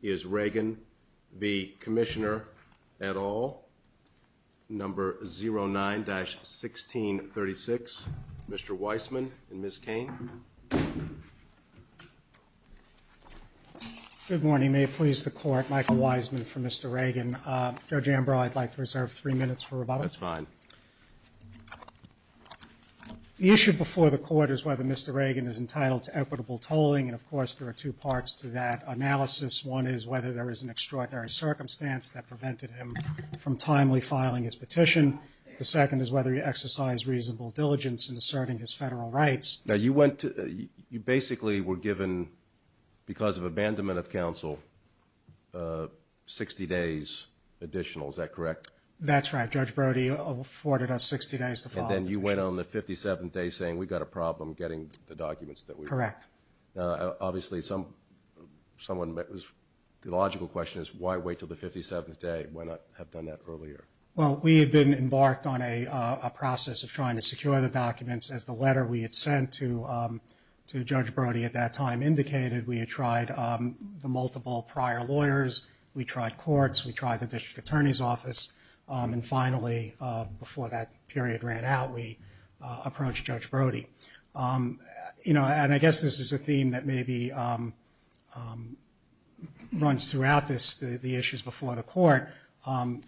is Ragan v. Commissioner et al., number 09-1636. Mr. Weissman and Ms. Cain. Good morning. May it please the Court, Michael Weissman for Mr. Ragan. Judge Ambrose, I'd The issue before the Court is whether Mr. Ragan is entitled to equitable tolling, and of course there are two parts to that analysis. One is whether there is an extraordinary circumstance that prevented him from timely filing his petition. The second is whether he exercised reasonable diligence in asserting his federal rights. Now you went to, you basically were given, because of abandonment of counsel, 60 days additional, is that correct? That's right. Judge Brody afforded us 60 days to file the petition. And then you went on the 57th day saying we've got a problem getting the documents that we Correct. Obviously someone, the logical question is why wait until the 57th day? Why not have done that earlier? Well, we had been embarked on a process of trying to secure the documents as the letter we had sent to Judge Brody at that time indicated. We had tried the multiple prior lawyers. We tried courts. We tried the District Attorney's Office. And finally, before that period ran out, we approached Judge Brody. You know, and I guess this is a theme that maybe runs throughout this, the issues before the Court.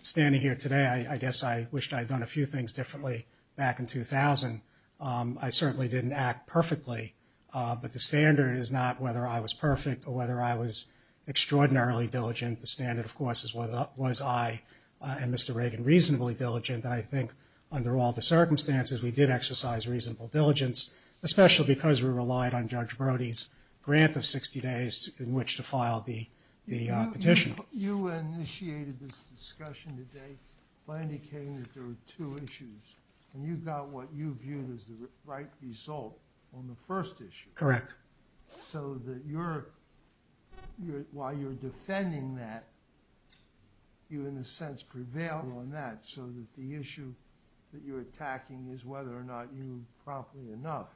Standing here today, I guess I wished I had done a few things differently back in 2000. I certainly didn't act perfectly, but the standard is not whether I was perfect or whether I was extraordinarily diligent. The standard, of course, is was I and Mr. Reagan reasonably diligent? And I think under all the circumstances, we did exercise reasonable diligence, especially because we relied on Judge Brody's grant of 60 days in which to file the petition. You initiated this discussion today by indicating that there were two issues, and you got what you viewed as the right result on the first issue. Correct. So that you're, while you're defending that, you in a sense prevail on that, so that the issue that you're attacking is whether or not you promptly enough.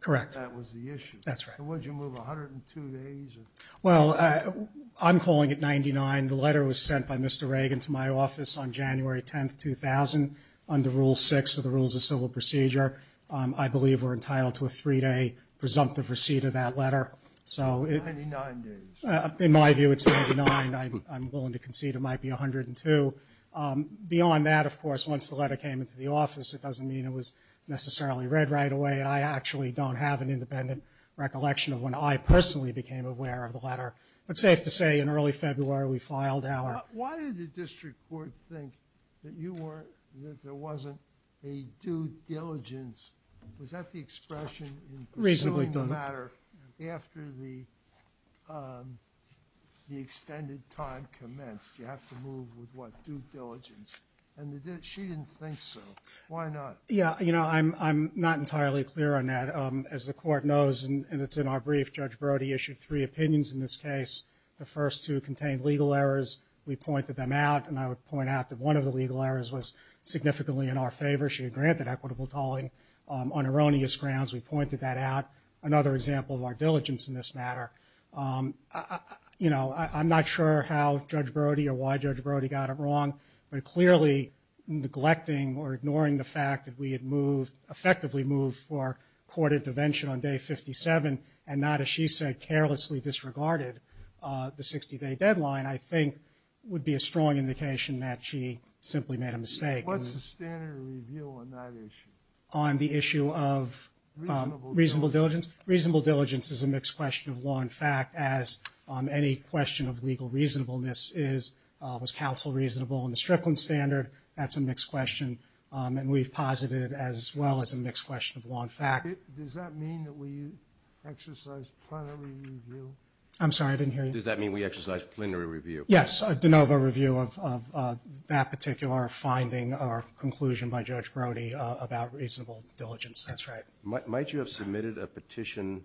Correct. That was the issue. That's right. Would you move 102 days? Well, I'm calling it 99. The letter was sent by Mr. Reagan to my office on January 10, 2000, under Rule 6 of the Rules of Civil Procedure. I believe we're entitled to a three-day presumptive receipt of that letter. 99 days. In my view, it's 99. I'm willing to concede it might be 102. Beyond that, of course, once the letter came into the office, it doesn't mean it was necessarily read right away, and I actually don't have an independent recollection of when I personally became aware of the letter. But safe to say in early February, we filed our. Why did the district court think that you weren't, that there wasn't a due diligence? Was that the expression in pursuing the matter after the extended time commenced? You have to move with, what, due diligence? And she didn't think so. Why not? Yeah, you know, I'm not entirely clear on that. As the court knows, and it's in our brief, Judge Brody issued three opinions in this case. The first two contained legal errors. We pointed them out, and I would point out that one of the legal errors was significantly in our favor. She had granted equitable tolling on erroneous grounds. We pointed that out. Another example of our diligence in this matter. You know, I'm not sure how Judge Brody or why Judge Brody got it wrong, but clearly neglecting or ignoring the fact that we had moved, effectively moved for court intervention on day 57 and not, as she said, carelessly disregarded the 60-day deadline, I think What's the standard review on that issue? On the issue of reasonable diligence? Reasonable diligence is a mixed question of law and fact, as any question of legal reasonableness is. Was counsel reasonable in the Strickland standard? That's a mixed question, and we've posited it as well as a mixed question of law and fact. Does that mean that we exercise plenary review? I'm sorry, I didn't hear you. Does that mean we exercise plenary review? Yes, a de novo review of that particular finding or conclusion by Judge Brody about reasonable diligence. That's right. Might you have submitted a petition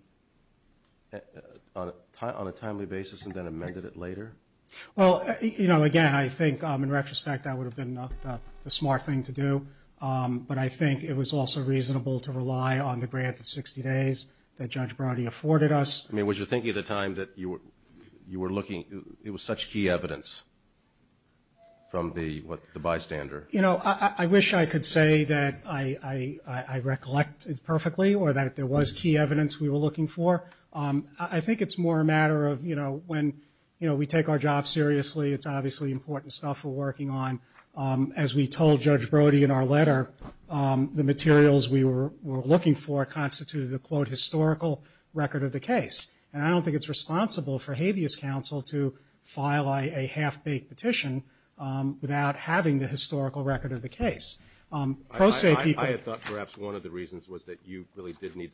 on a timely basis and then amended it later? Well, you know, again, I think in retrospect that would have been the smart thing to do, but I think it was also reasonable to rely on the grant of 60 days that Judge Brody afforded us. I mean, was your thinking at the time that you were looking, it was such key evidence from the bystander? You know, I wish I could say that I recollect it perfectly or that there was key evidence we were looking for. I think it's more a matter of, you know, when we take our job seriously, it's obviously important stuff we're working on. As we told Judge Brody in our letter, the materials we were looking for constituted a, quote, historical record of the case. And I don't think it's responsible for habeas counsel to file a half-baked petition without having the historical record of the case. I have thought perhaps one of the reasons was that you really did need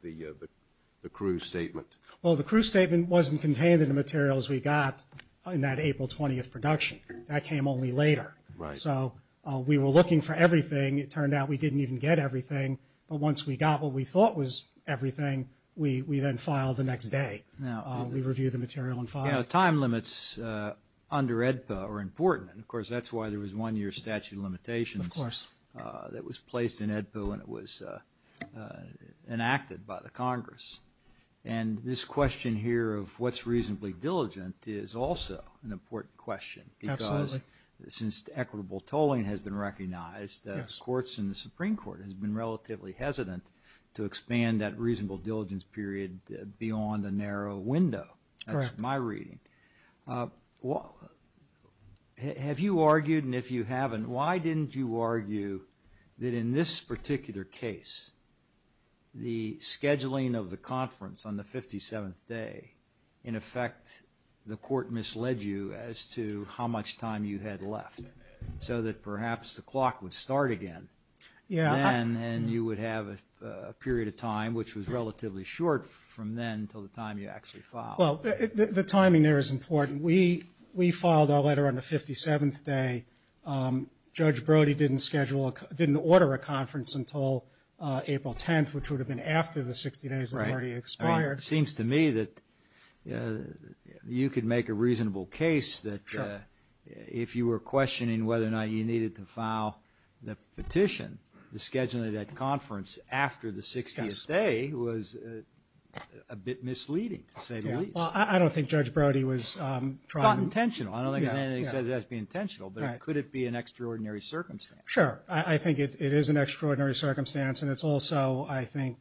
the crew statement. Well, the crew statement wasn't contained in the materials we got in that April 20th production. That came only later. Right. So we were looking for everything. It turned out we didn't even get everything. But once we got what we thought was everything, we then filed the next day. We reviewed the material and filed it. Now, time limits under AEDPA are important. And, of course, that's why there was one-year statute of limitations that was placed in AEDPA when it was enacted by the Congress. And this question here of what's reasonably diligent is also an important question. Absolutely. Since equitable tolling has been recognized, courts in the Supreme Court have been relatively hesitant to expand that reasonable diligence period beyond a narrow window. That's my reading. Have you argued, and if you haven't, why didn't you argue that in this particular case the scheduling of the conference on the 57th day, in effect, the court misled you as to how much time you had left so that perhaps the clock would start again. Yeah. And you would have a period of time which was relatively short from then until the time you actually filed. Well, the timing there is important. We filed our letter on the 57th day. Judge Brody didn't order a conference until April 10th, which would have been after the 60 days had already expired. Right. It seems to me that you could make a reasonable case that if you were questioning whether or not you needed to file the petition, the scheduling of that conference after the 60th day was a bit misleading, to say the least. Well, I don't think Judge Brody was trying to. Not intentional. I don't think there's anything that he says has to be intentional, but could it be an extraordinary circumstance? Sure. I think it is an extraordinary circumstance, and it's also, I think,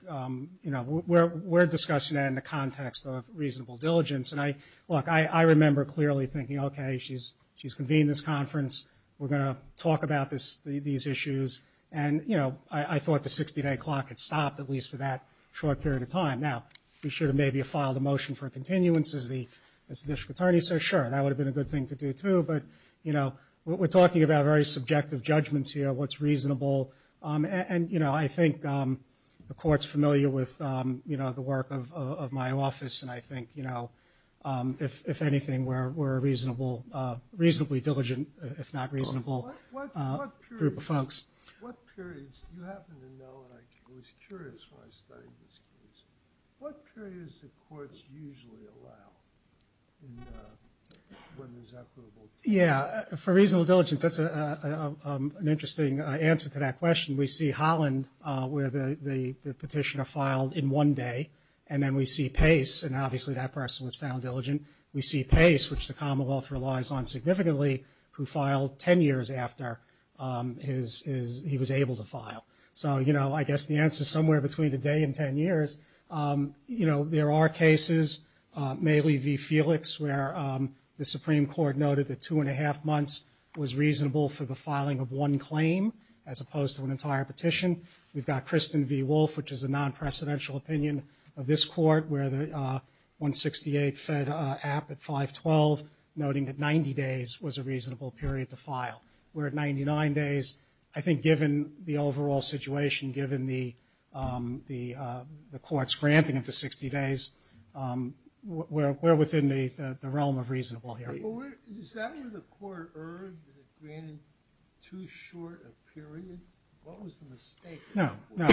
you know, we're discussing that in the context of reasonable diligence. And, look, I remember clearly thinking, okay, she's convened this conference. We're going to talk about these issues. And, you know, I thought the 60-day clock had stopped, at least for that short period of time. Now, we should have maybe filed a motion for continuance as the district attorney. So, sure, that would have been a good thing to do, too. But, you know, we're talking about very subjective judgments here, what's reasonable. And, you know, I think the Court's familiar with, you know, the work of my office. And I think, you know, if anything, we're a reasonably diligent, if not reasonable, group of folks. What periods, you happen to know, and I was curious when I studied this case, what periods do courts usually allow when there's equitable diligence? Yeah, for reasonable diligence, that's an interesting answer to that question. We see Holland, where the petitioner filed in one day. And then we see Pace, and obviously that person was found diligent. We see Pace, which the Commonwealth relies on significantly, who filed 10 years after he was able to file. So, you know, I guess the answer is somewhere between a day and 10 years. You know, there are cases, mainly v. Felix, where the Supreme Court noted that two and a half months was reasonable for the filing of one claim, as opposed to an entire petition. We've got Kristen v. Wolf, which is a non-presidential opinion of this Court, where the 168 fed up at 512, noting that 90 days was a reasonable period to file. Where at 99 days, I think given the overall situation, given the Court's granting of the 60 days, we're within the realm of reasonable here. Is that where the Court erred, that it granted too short a period? No. No,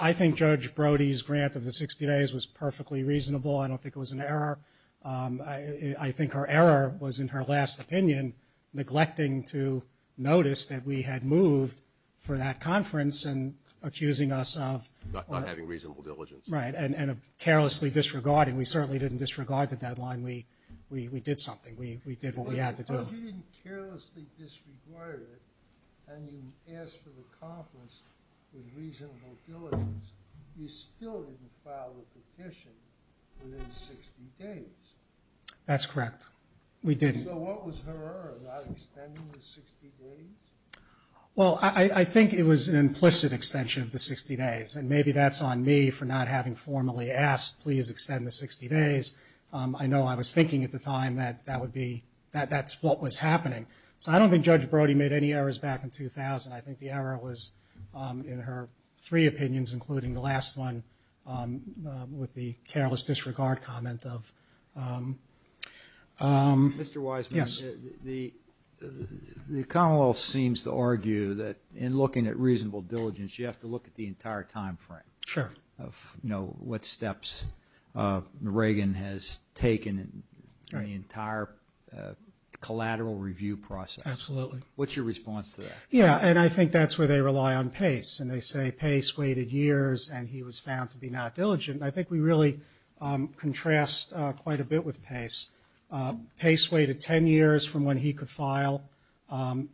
I think Judge Brody's grant of the 60 days was perfectly reasonable. I don't think it was an error. I think her error was, in her last opinion, neglecting to notice that we had moved for that conference and accusing us of… Not having reasonable diligence. Right, and of carelessly disregarding. We certainly didn't disregard the deadline. We did something. We did what we had to do. Because you didn't carelessly disregard it, and you asked for the conference with reasonable diligence, you still didn't file the petition within 60 days. That's correct. So what was her error about extending the 60 days? Well, I think it was an implicit extension of the 60 days, and maybe that's on me for not having formally asked, please extend the 60 days. I know I was thinking at the time that that's what was happening. So I don't think Judge Brody made any errors back in 2000. I think the error was in her three opinions, including the last one with the careless disregard comment of… Mr. Wiseman. Yes. The Commonwealth seems to argue that in looking at reasonable diligence, you have to look at the entire time frame. Sure. What steps Reagan has taken in the entire collateral review process. Absolutely. What's your response to that? Yeah, and I think that's where they rely on Pace, and they say Pace waited years and he was found to be not diligent. I think we really contrast quite a bit with Pace. Pace waited 10 years from when he could file.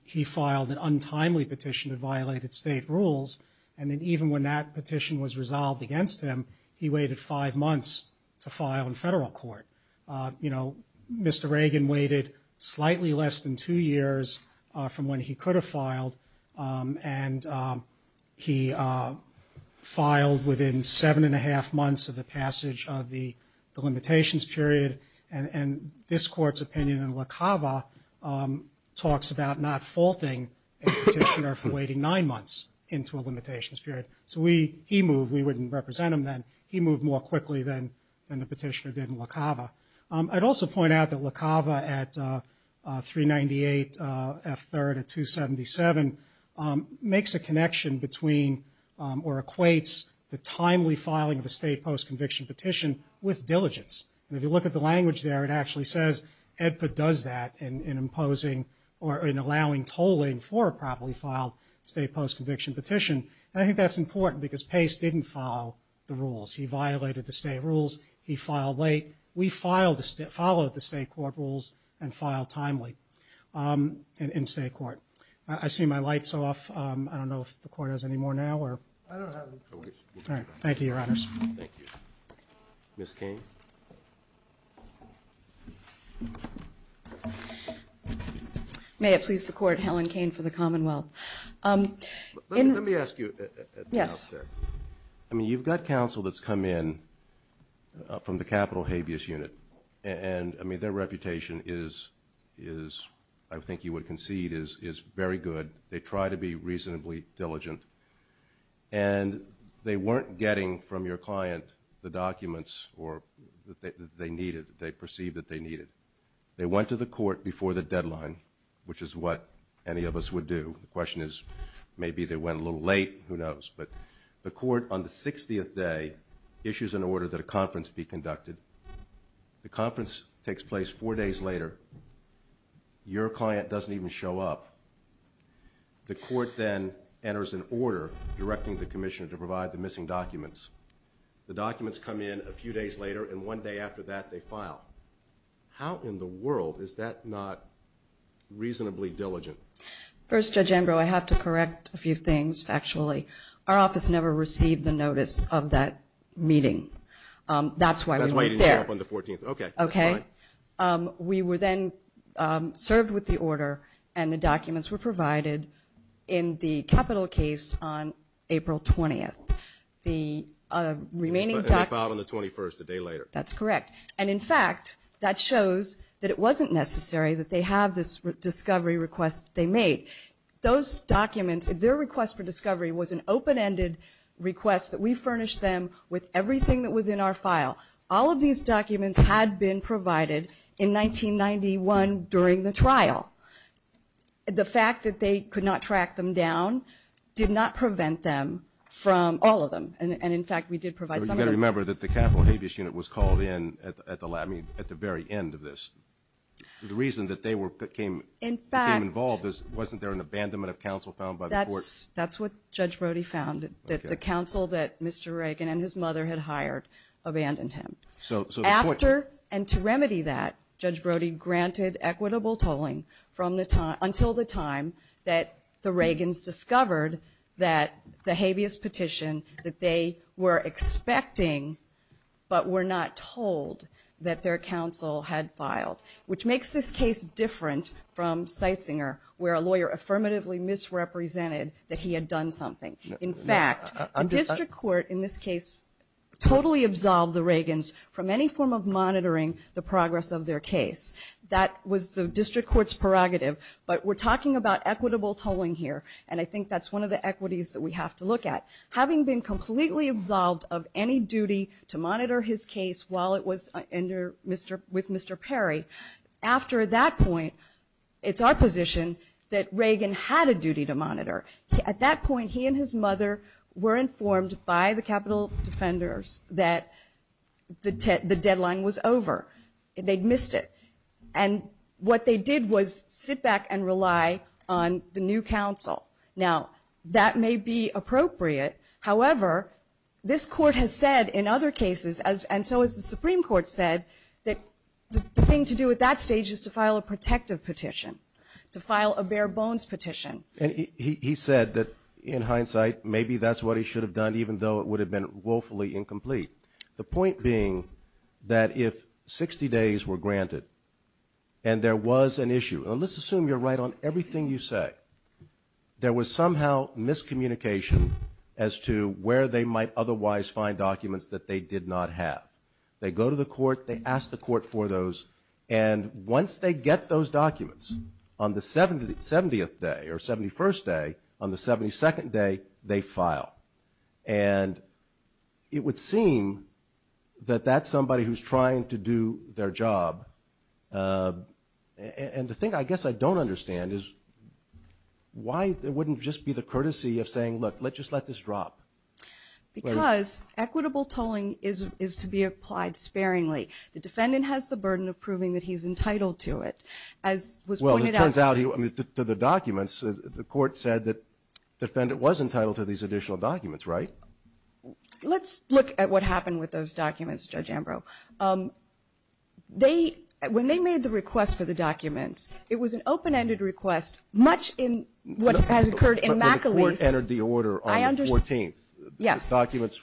He filed an untimely petition that violated state rules, and then even when that petition was resolved against him, he waited five months to file in federal court. You know, Mr. Reagan waited slightly less than two years from when he could have filed, and he filed within seven and a half months of the passage of the limitations period, and this court's opinion in La Cava talks about not faulting a petitioner for waiting nine months into a limitations period. So he moved. We wouldn't represent him then. He moved more quickly than the petitioner did in La Cava. I'd also point out that La Cava at 398 F3rd and 277 makes a connection between or equates the timely filing of a state post-conviction petition with diligence. And if you look at the language there, it actually says EDPA does that in imposing or in allowing tolling for a state post-conviction petition. And I think that's important because Pace didn't follow the rules. He violated the state rules. He filed late. We followed the state court rules and filed timely in state court. I see my light's off. I don't know if the court has any more now. I don't have any more. All right. Thank you, Your Honors. Thank you. Ms. Cain. May it please the Court, Helen Cain for the Commonwealth. Let me ask you. Yes. I mean, you've got counsel that's come in from the capital habeas unit. And, I mean, their reputation is, I think you would concede, is very good. They try to be reasonably diligent. And they weren't getting from your client the documents that they needed, they perceived that they needed. They went to the court before the deadline, which is what any of us would do. The question is maybe they went a little late, who knows. But the court on the 60th day issues an order that a conference be conducted. The conference takes place four days later. Your client doesn't even show up. The court then enters an order directing the commissioner to provide the missing documents. The documents come in a few days later, and one day after that they file. How in the world is that not reasonably diligent? First, Judge Ambrose, I have to correct a few things factually. Our office never received the notice of that meeting. That's why we weren't there. That's why you didn't show up on the 14th. Okay. Okay. We were then served with the order, and the documents were provided in the capital case on April 20th. And they filed on the 21st, a day later. That's correct. And, in fact, that shows that it wasn't necessary that they have this discovery request they made. Those documents, their request for discovery was an open-ended request that we furnished them with everything that was in our file. All of these documents had been provided in 1991 during the trial. The fact that they could not track them down did not prevent them from all of them. And, in fact, we did provide some of them. You've got to remember that the capital habeas unit was called in at the very end of this. The reason that they came involved was wasn't there an abandonment of counsel found by the court? That's what Judge Brody found, that the counsel that Mr. Reagan and his mother had hired abandoned him. After, and to remedy that, Judge Brody granted equitable tolling until the time that the Reagans discovered that the habeas petition that they were expecting but were not told that their counsel had filed, which makes this case different from Seitzinger, where a lawyer affirmatively misrepresented that he had done something. In fact, the district court in this case totally absolved the Reagans from any form of monitoring the progress of their case. That was the district court's prerogative. But we're talking about equitable tolling here, and I think that's one of the equities that we have to look at. Having been completely absolved of any duty to monitor his case while it was under Mr. — with Mr. Perry, after that point, it's our position that Reagan had a duty to monitor. At that point, he and his mother were informed by the capital defenders that the deadline was over. They'd missed it. And what they did was sit back and rely on the new counsel. Now, that may be appropriate. However, this court has said in other cases, and so has the Supreme Court said, that the thing to do at that stage is to file a protective petition, to file a bare-bones petition. And he said that, in hindsight, maybe that's what he should have done, even though it would have been woefully incomplete. The point being that if 60 days were granted and there was an issue, and let's assume you're right on everything you say, there was somehow miscommunication as to where they might otherwise find documents that they did not have. They go to the court. They ask the court for those. And once they get those documents, on the 70th day or 71st day, on the 72nd day, they file. And it would seem that that's somebody who's trying to do their job. And the thing I guess I don't understand is why it wouldn't just be the courtesy of saying, look, let's just let this drop. Because equitable tolling is to be applied sparingly. The defendant has the burden of proving that he's entitled to it. As was pointed out to the documents, the court said that the defendant was entitled to these additional documents, right? Let's look at what happened with those documents, Judge Ambrose. They, when they made the request for the documents, it was an open-ended request, much in what has occurred in McAleese. But the court entered the order on the 14th. Yes.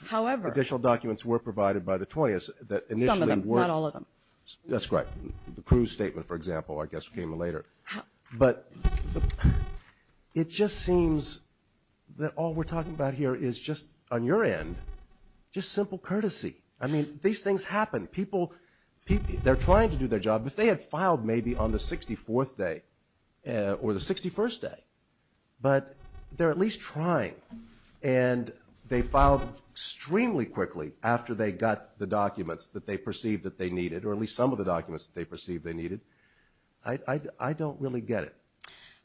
However. Additional documents were provided by the 20th that initially were. Some of them, not all of them. That's right. The Cruz statement, for example, I guess, came later. But it just seems that all we're talking about here is just, on your end, just simple courtesy. I mean, these things happen. People, they're trying to do their job. If they had filed maybe on the 64th day or the 61st day, but they're at least trying. And they filed extremely quickly after they got the documents that they perceived that they needed, or at least some of the documents that they perceived they needed. I don't really get it.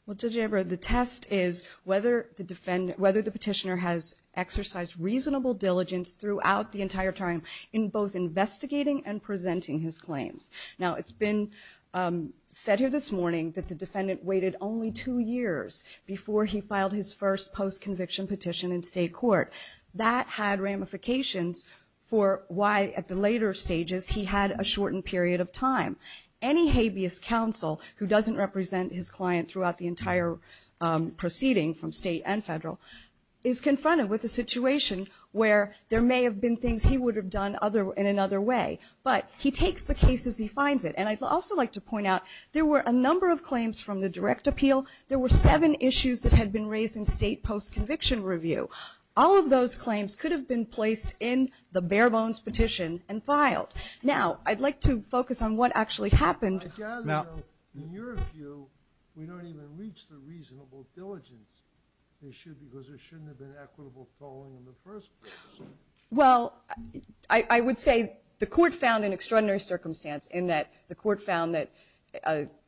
Well, Judge Ambrose, the test is whether the petitioner has exercised reasonable diligence throughout the entire time in both investigating and presenting his claims. Now, it's been said here this morning that the defendant waited only two years before he filed his first post-conviction petition in state court. That had ramifications for why, at the later stages, he had a shortened period of time. Any habeas counsel who doesn't represent his client throughout the entire proceeding from state and federal is confronted with a situation where there may have been things he would have done in another way. But he takes the case as he finds it. And I'd also like to point out, there were a number of claims from the direct appeal. There were seven issues that had been raised in state post-conviction review. All of those claims could have been placed in the bare-bones petition and filed. Now, I'd like to focus on what actually happened. I gather, though, in your view, we don't even reach the reasonable diligence issue because there shouldn't have been equitable tolling in the first place. Well, I would say the court found an extraordinary circumstance in that the court found that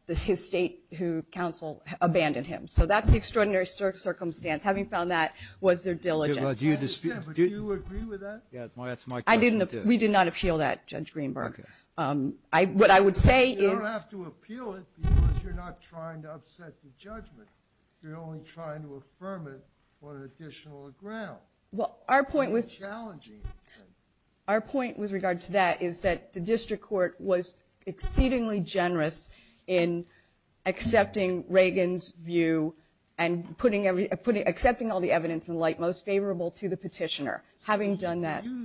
his state counsel abandoned him. So that's the extraordinary circumstance. Having found that was their diligence. Do you agree with that? That's my question, too. We did not appeal that, Judge Greenberg. Okay. What I would say is. You don't have to appeal it because you're not trying to upset the judgment. Well, our point with. It's challenging. Our point with regard to that is that the district court was exceedingly generous in accepting Reagan's view and accepting all the evidence in light most favorable to the petitioner. Having done that. Do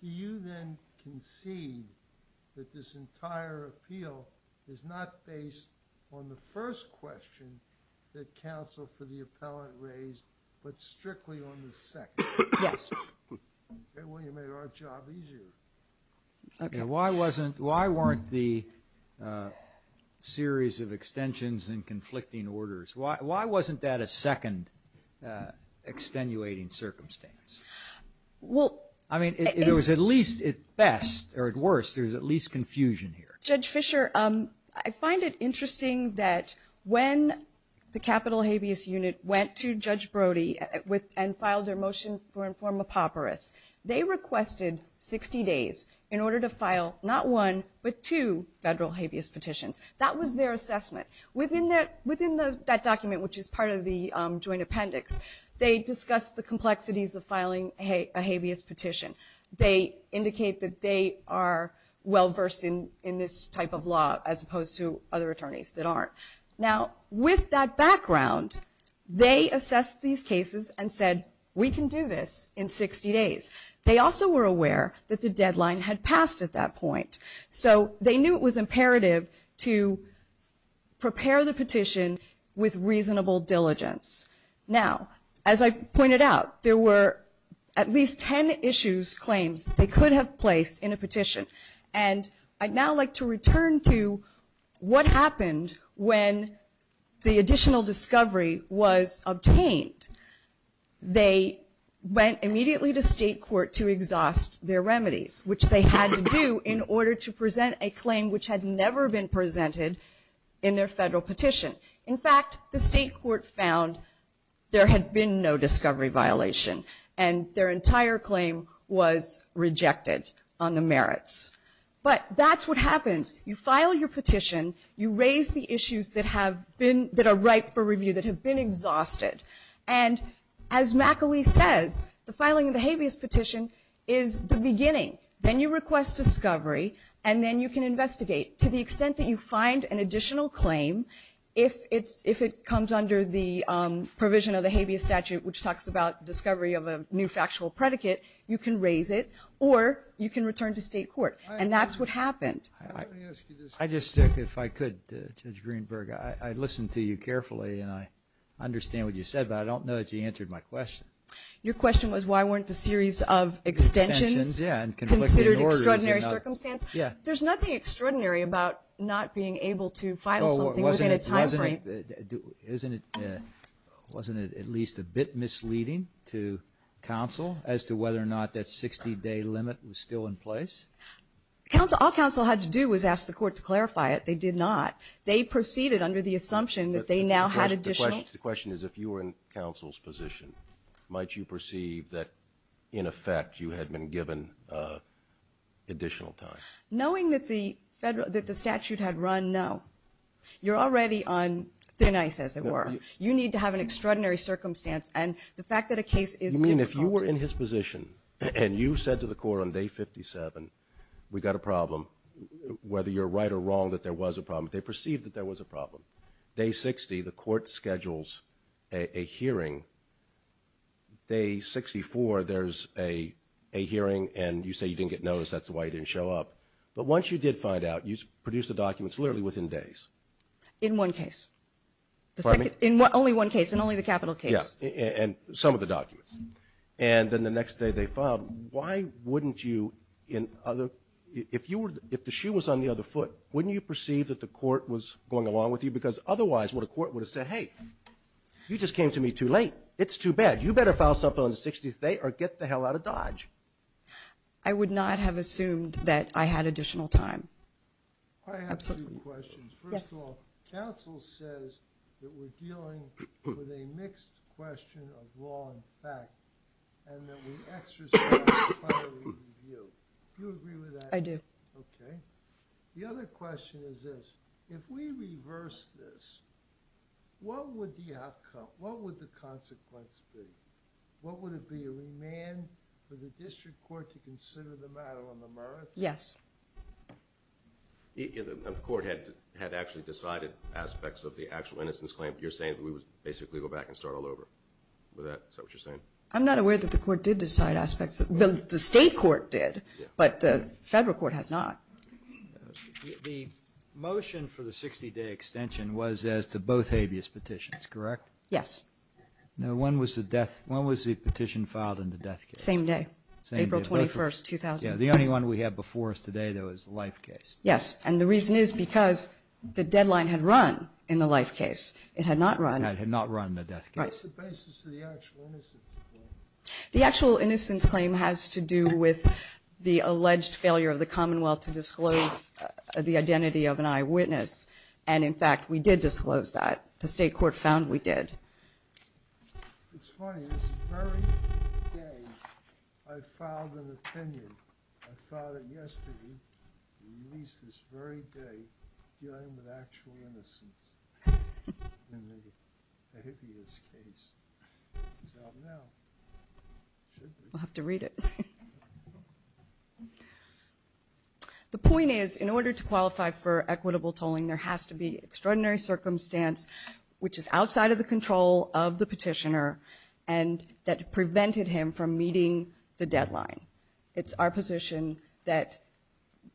you then concede that this entire appeal is not based on the first question that counsel for the appellant raised, but strictly on the second? Yes. Well, you made our job easier. Okay. Why wasn't. Why weren't the series of extensions and conflicting orders. Why wasn't that a second extenuating circumstance? Well. I mean, it was at least at best or at worst. There's at least confusion here. Judge Fischer, I find it interesting that when the capital habeas unit went to Judge Brody and filed their motion for informal papyrus, they requested 60 days in order to file not one, but two federal habeas petitions. That was their assessment. Within that document, which is part of the joint appendix, they discussed the complexities of filing a habeas petition. They indicate that they are well-versed in this type of law, as opposed to other attorneys that aren't. Now, with that background, they assessed these cases and said, we can do this in 60 days. They also were aware that the deadline had passed at that point. So they knew it was imperative to prepare the petition with reasonable diligence. Now, as I pointed out, there were at least ten issues, claims, they could have placed in a petition. And I'd now like to return to what happened when the additional discovery was obtained. They went immediately to state court to exhaust their remedies, which they had to do in order to present a claim which had never been presented in their federal petition. In fact, the state court found there had been no discovery violation, and their entire claim was rejected on the merits. But that's what happens. You file your petition. You raise the issues that are ripe for review, that have been exhausted. And as McAleese says, the filing of the habeas petition is the beginning. Then you request discovery, and then you can investigate. To the extent that you find an additional claim, if it comes under the provision of the habeas statute, which talks about discovery of a new factual predicate, you can raise it, or you can return to state court. And that's what happened. Let me ask you this. If I could, Judge Greenberg. I listened to you carefully, and I understand what you said, but I don't know that you answered my question. Your question was why weren't a series of extensions considered extraordinary circumstances? There's nothing extraordinary about not being able to file something within a time frame. Wasn't it at least a bit misleading to counsel as to whether or not that 60-day limit was still in place? All counsel had to do was ask the court to clarify it. They did not. They proceeded under the assumption that they now had additional. The question is if you were in counsel's position, might you perceive that, in effect, you had been given additional time? Knowing that the statute had run, no. You're already on thin ice, as it were. You need to have an extraordinary circumstance, and the fact that a case is still in court. You mean if you were in his position and you said to the court on Day 57, we've got a problem, whether you're right or wrong that there was a problem, they perceived that there was a problem. Day 60, the court schedules a hearing. Day 64, there's a hearing, and you say you didn't get notice. That's why you didn't show up. But once you did find out, you produced the documents literally within days. In one case. Pardon me? In only one case, in only the capital case. Yes, and some of the documents. And then the next day they filed. Why wouldn't you, if the shoe was on the other foot, wouldn't you perceive that the court was going along with you? Because otherwise, what a court would have said, hey, you just came to me too late. It's too bad. You better file something on the 60th day or get the hell out of Dodge. I would not have assumed that I had additional time. I have two questions. First of all, counsel says that we're dealing with a mixed question of law and fact, and that we exercise a plenary review. Do you agree with that? I do. Okay. The other question is this. If we reverse this, what would the outcome, what would the consequence be? What would it be? A remand for the district court to consider the matter on the merits? Yes. The court had actually decided aspects of the actual innocence claim, but you're saying that we would basically go back and start all over. Is that what you're saying? I'm not aware that the court did decide aspects. The state court did. But the federal court has not. The motion for the 60-day extension was as to both habeas petitions, correct? Yes. Now, when was the petition filed in the death case? Same day, April 21st, 2000. Yes. The only one we have before us today, though, is the life case. Yes. And the reason is because the deadline had run in the life case. It had not run. It had not run in the death case. Right. What's the basis of the actual innocence claim? The actual innocence claim has to do with the alleged failure of the Commonwealth to disclose the identity of an eyewitness. And, in fact, we did disclose that. The state court found we did. It's funny. This very day I filed an opinion. I filed it yesterday. We released this very day dealing with actual innocence in the habeas case. We'll have to read it. The point is, in order to qualify for equitable tolling, there has to be extraordinary circumstance, which is outside of the control of the petitioner, and that prevented him from meeting the deadline. It's our position that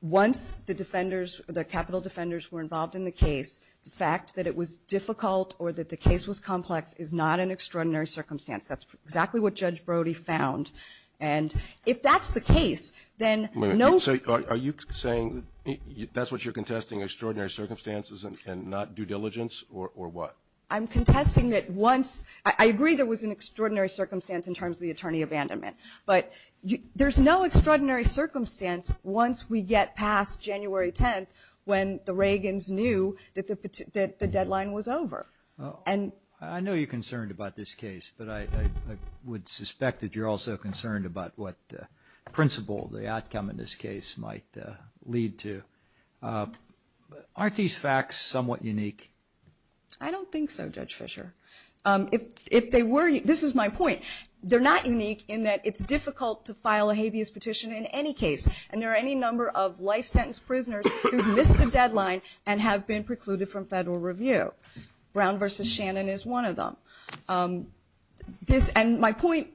once the capital defenders were involved in the case, the fact that it was difficult or that the case was complex is not an extraordinary circumstance. That's exactly what Judge Brody found. And if that's the case, then no ---- Wait a minute. Are you saying that's what you're contesting, extraordinary circumstances and not due diligence, or what? I'm contesting that once ---- I agree there was an extraordinary circumstance in terms of the attorney abandonment. But there's no extraordinary circumstance once we get past January 10th when the deadline was over. I know you're concerned about this case, but I would suspect that you're also concerned about what principle the outcome in this case might lead to. Aren't these facts somewhat unique? I don't think so, Judge Fischer. If they were, this is my point, they're not unique in that it's difficult to file a habeas petition in any case, and there are any number of life sentence prisoners who've missed the deadline and have been precluded from federal review. Brown v. Shannon is one of them. And my point,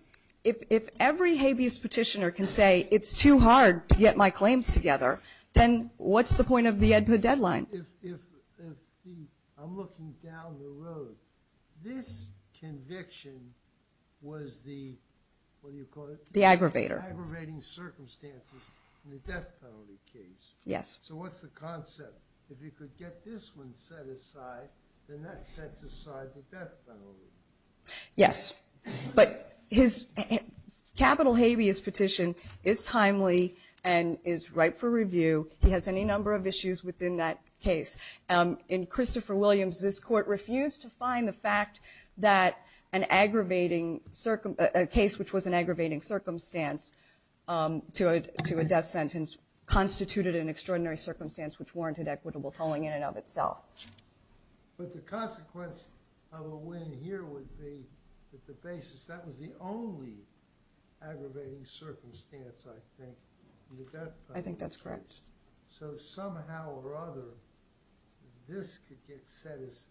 if every habeas petitioner can say it's too hard to get my claims together, then what's the point of the EDPA deadline? I'm looking down the road. This conviction was the, what do you call it? The aggravator. Aggravating circumstances in the death penalty case. Yes. So what's the concept? If you could get this one set aside, then that sets aside the death penalty. Yes. But his capital habeas petition is timely and is ripe for review. He has any number of issues within that case. In Christopher Williams, this court refused to find the fact that a case which was an aggravating circumstance to a death sentence constituted an extraordinary circumstance which warranted equitable tolling in and of itself. But the consequence of a win here would be that the basis, that was the only aggravating circumstance, I think, in the death penalty. I think that's correct. So somehow or other, this could get set aside.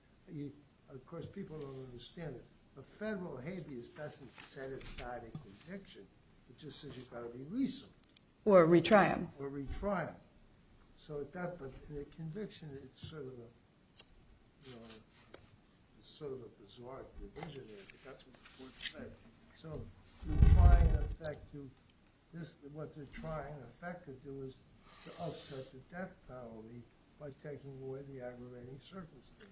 Of course, people don't understand it. A federal habeas doesn't set aside a conviction. It just says you've got to release them. Or retry them. But the conviction, it's sort of a bizarre division. That's what the court said. So what they're trying to do is to upset the death penalty by taking away the aggravating circumstance.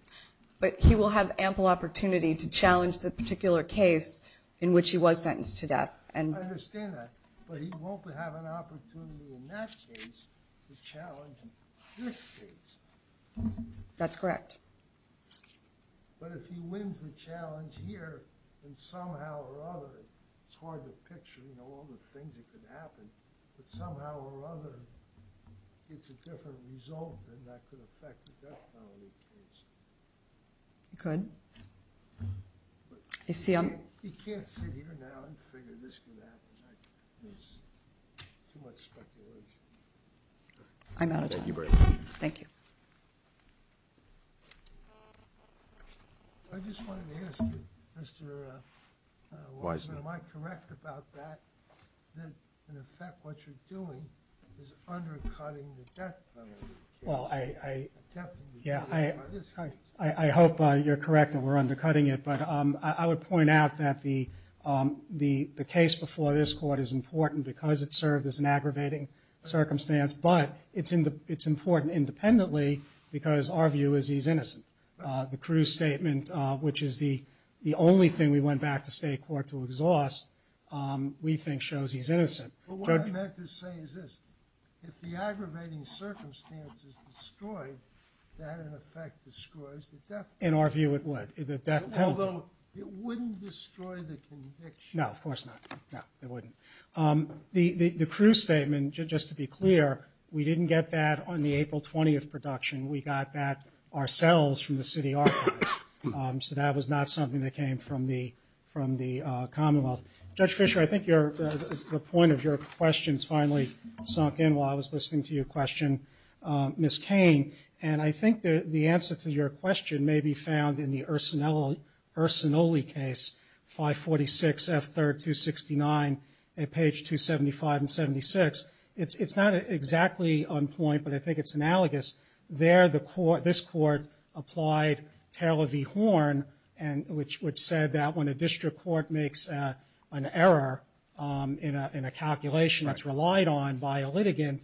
But he will have ample opportunity to challenge the particular case in which he was sentenced to death. I understand that. But he won't have an opportunity in that case to challenge this case. That's correct. But if he wins the challenge here, then somehow or other, it's hard to picture all the things that could happen, but somehow or other it's a different result than that could affect the death penalty case. It could. You can't sit here now and figure this could happen. It's too much speculation. I'm out of time. Thank you very much. Thank you. I just wanted to ask you, Mr. Wolfman, am I correct about that, that in effect what you're doing is undercutting the death penalty case? Well, I hope you're correct that we're undercutting it, but I would point out that the case before this court is important because it served as an aggravating circumstance, but it's important independently because our view is he's innocent. The Cruz statement, which is the only thing we went back to state court to exhaust, we think shows he's innocent. What I meant to say is this. If the aggravating circumstance is destroyed, that in effect destroys the death penalty. In our view it would. Although it wouldn't destroy the conviction. No, of course not. No, it wouldn't. The Cruz statement, just to be clear, we didn't get that on the April 20th production. We got that ourselves from the city archives, so that was not something that came from the Commonwealth. Judge Fisher, I think the point of your questions finally sunk in while I was listening to your question, Ms. Cain. And I think the answer to your question may be found in the Ursinoli case, 546 F. 3rd, 269, at page 275 and 76. It's not exactly on point, but I think it's analogous. This court applied Taylor v. Horn, which said that when a district court makes an error in a calculation that's relied on by a litigant,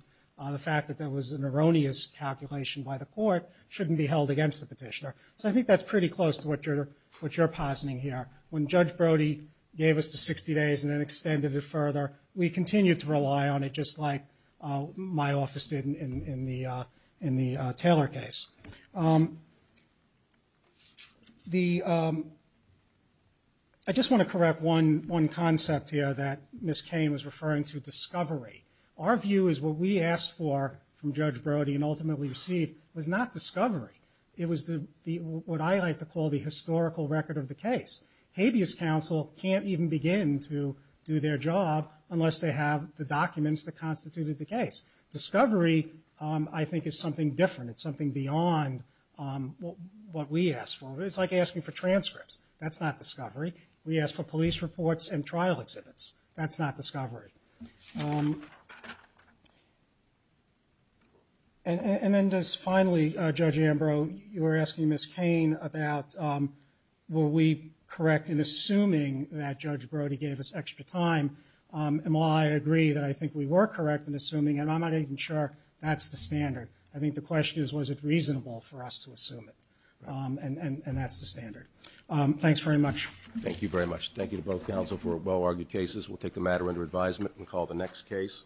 the fact that there was an erroneous calculation by the court shouldn't be held against the petitioner. So I think that's pretty close to what you're positing here. When Judge Brody gave us the 60 days and then extended it further, we continued to rely on it just like my office did in the Taylor case. I just want to correct one concept here that Ms. Cain was referring to, discovery. Our view is what we asked for from Judge Brody and ultimately received was not discovery. It was what I like to call the historical record of the case. Habeas counsel can't even begin to do their job unless they have the documents that constituted the case. Discovery, I think, is something different. It's something beyond what we asked for. It's like asking for transcripts. That's not discovery. We asked for police reports and trial exhibits. That's not discovery. And then just finally, Judge Ambrose, you were asking Ms. Cain about were we correct in assuming that Judge Brody gave us extra time. And while I agree that I think we were correct in assuming, and I'm not even sure that's the standard, I think the question is was it reasonable for us to assume it. And that's the standard. Thanks very much. Thank you very much. Thank you to both counsel for well-argued cases. We'll take the matter under advisement and call the next case.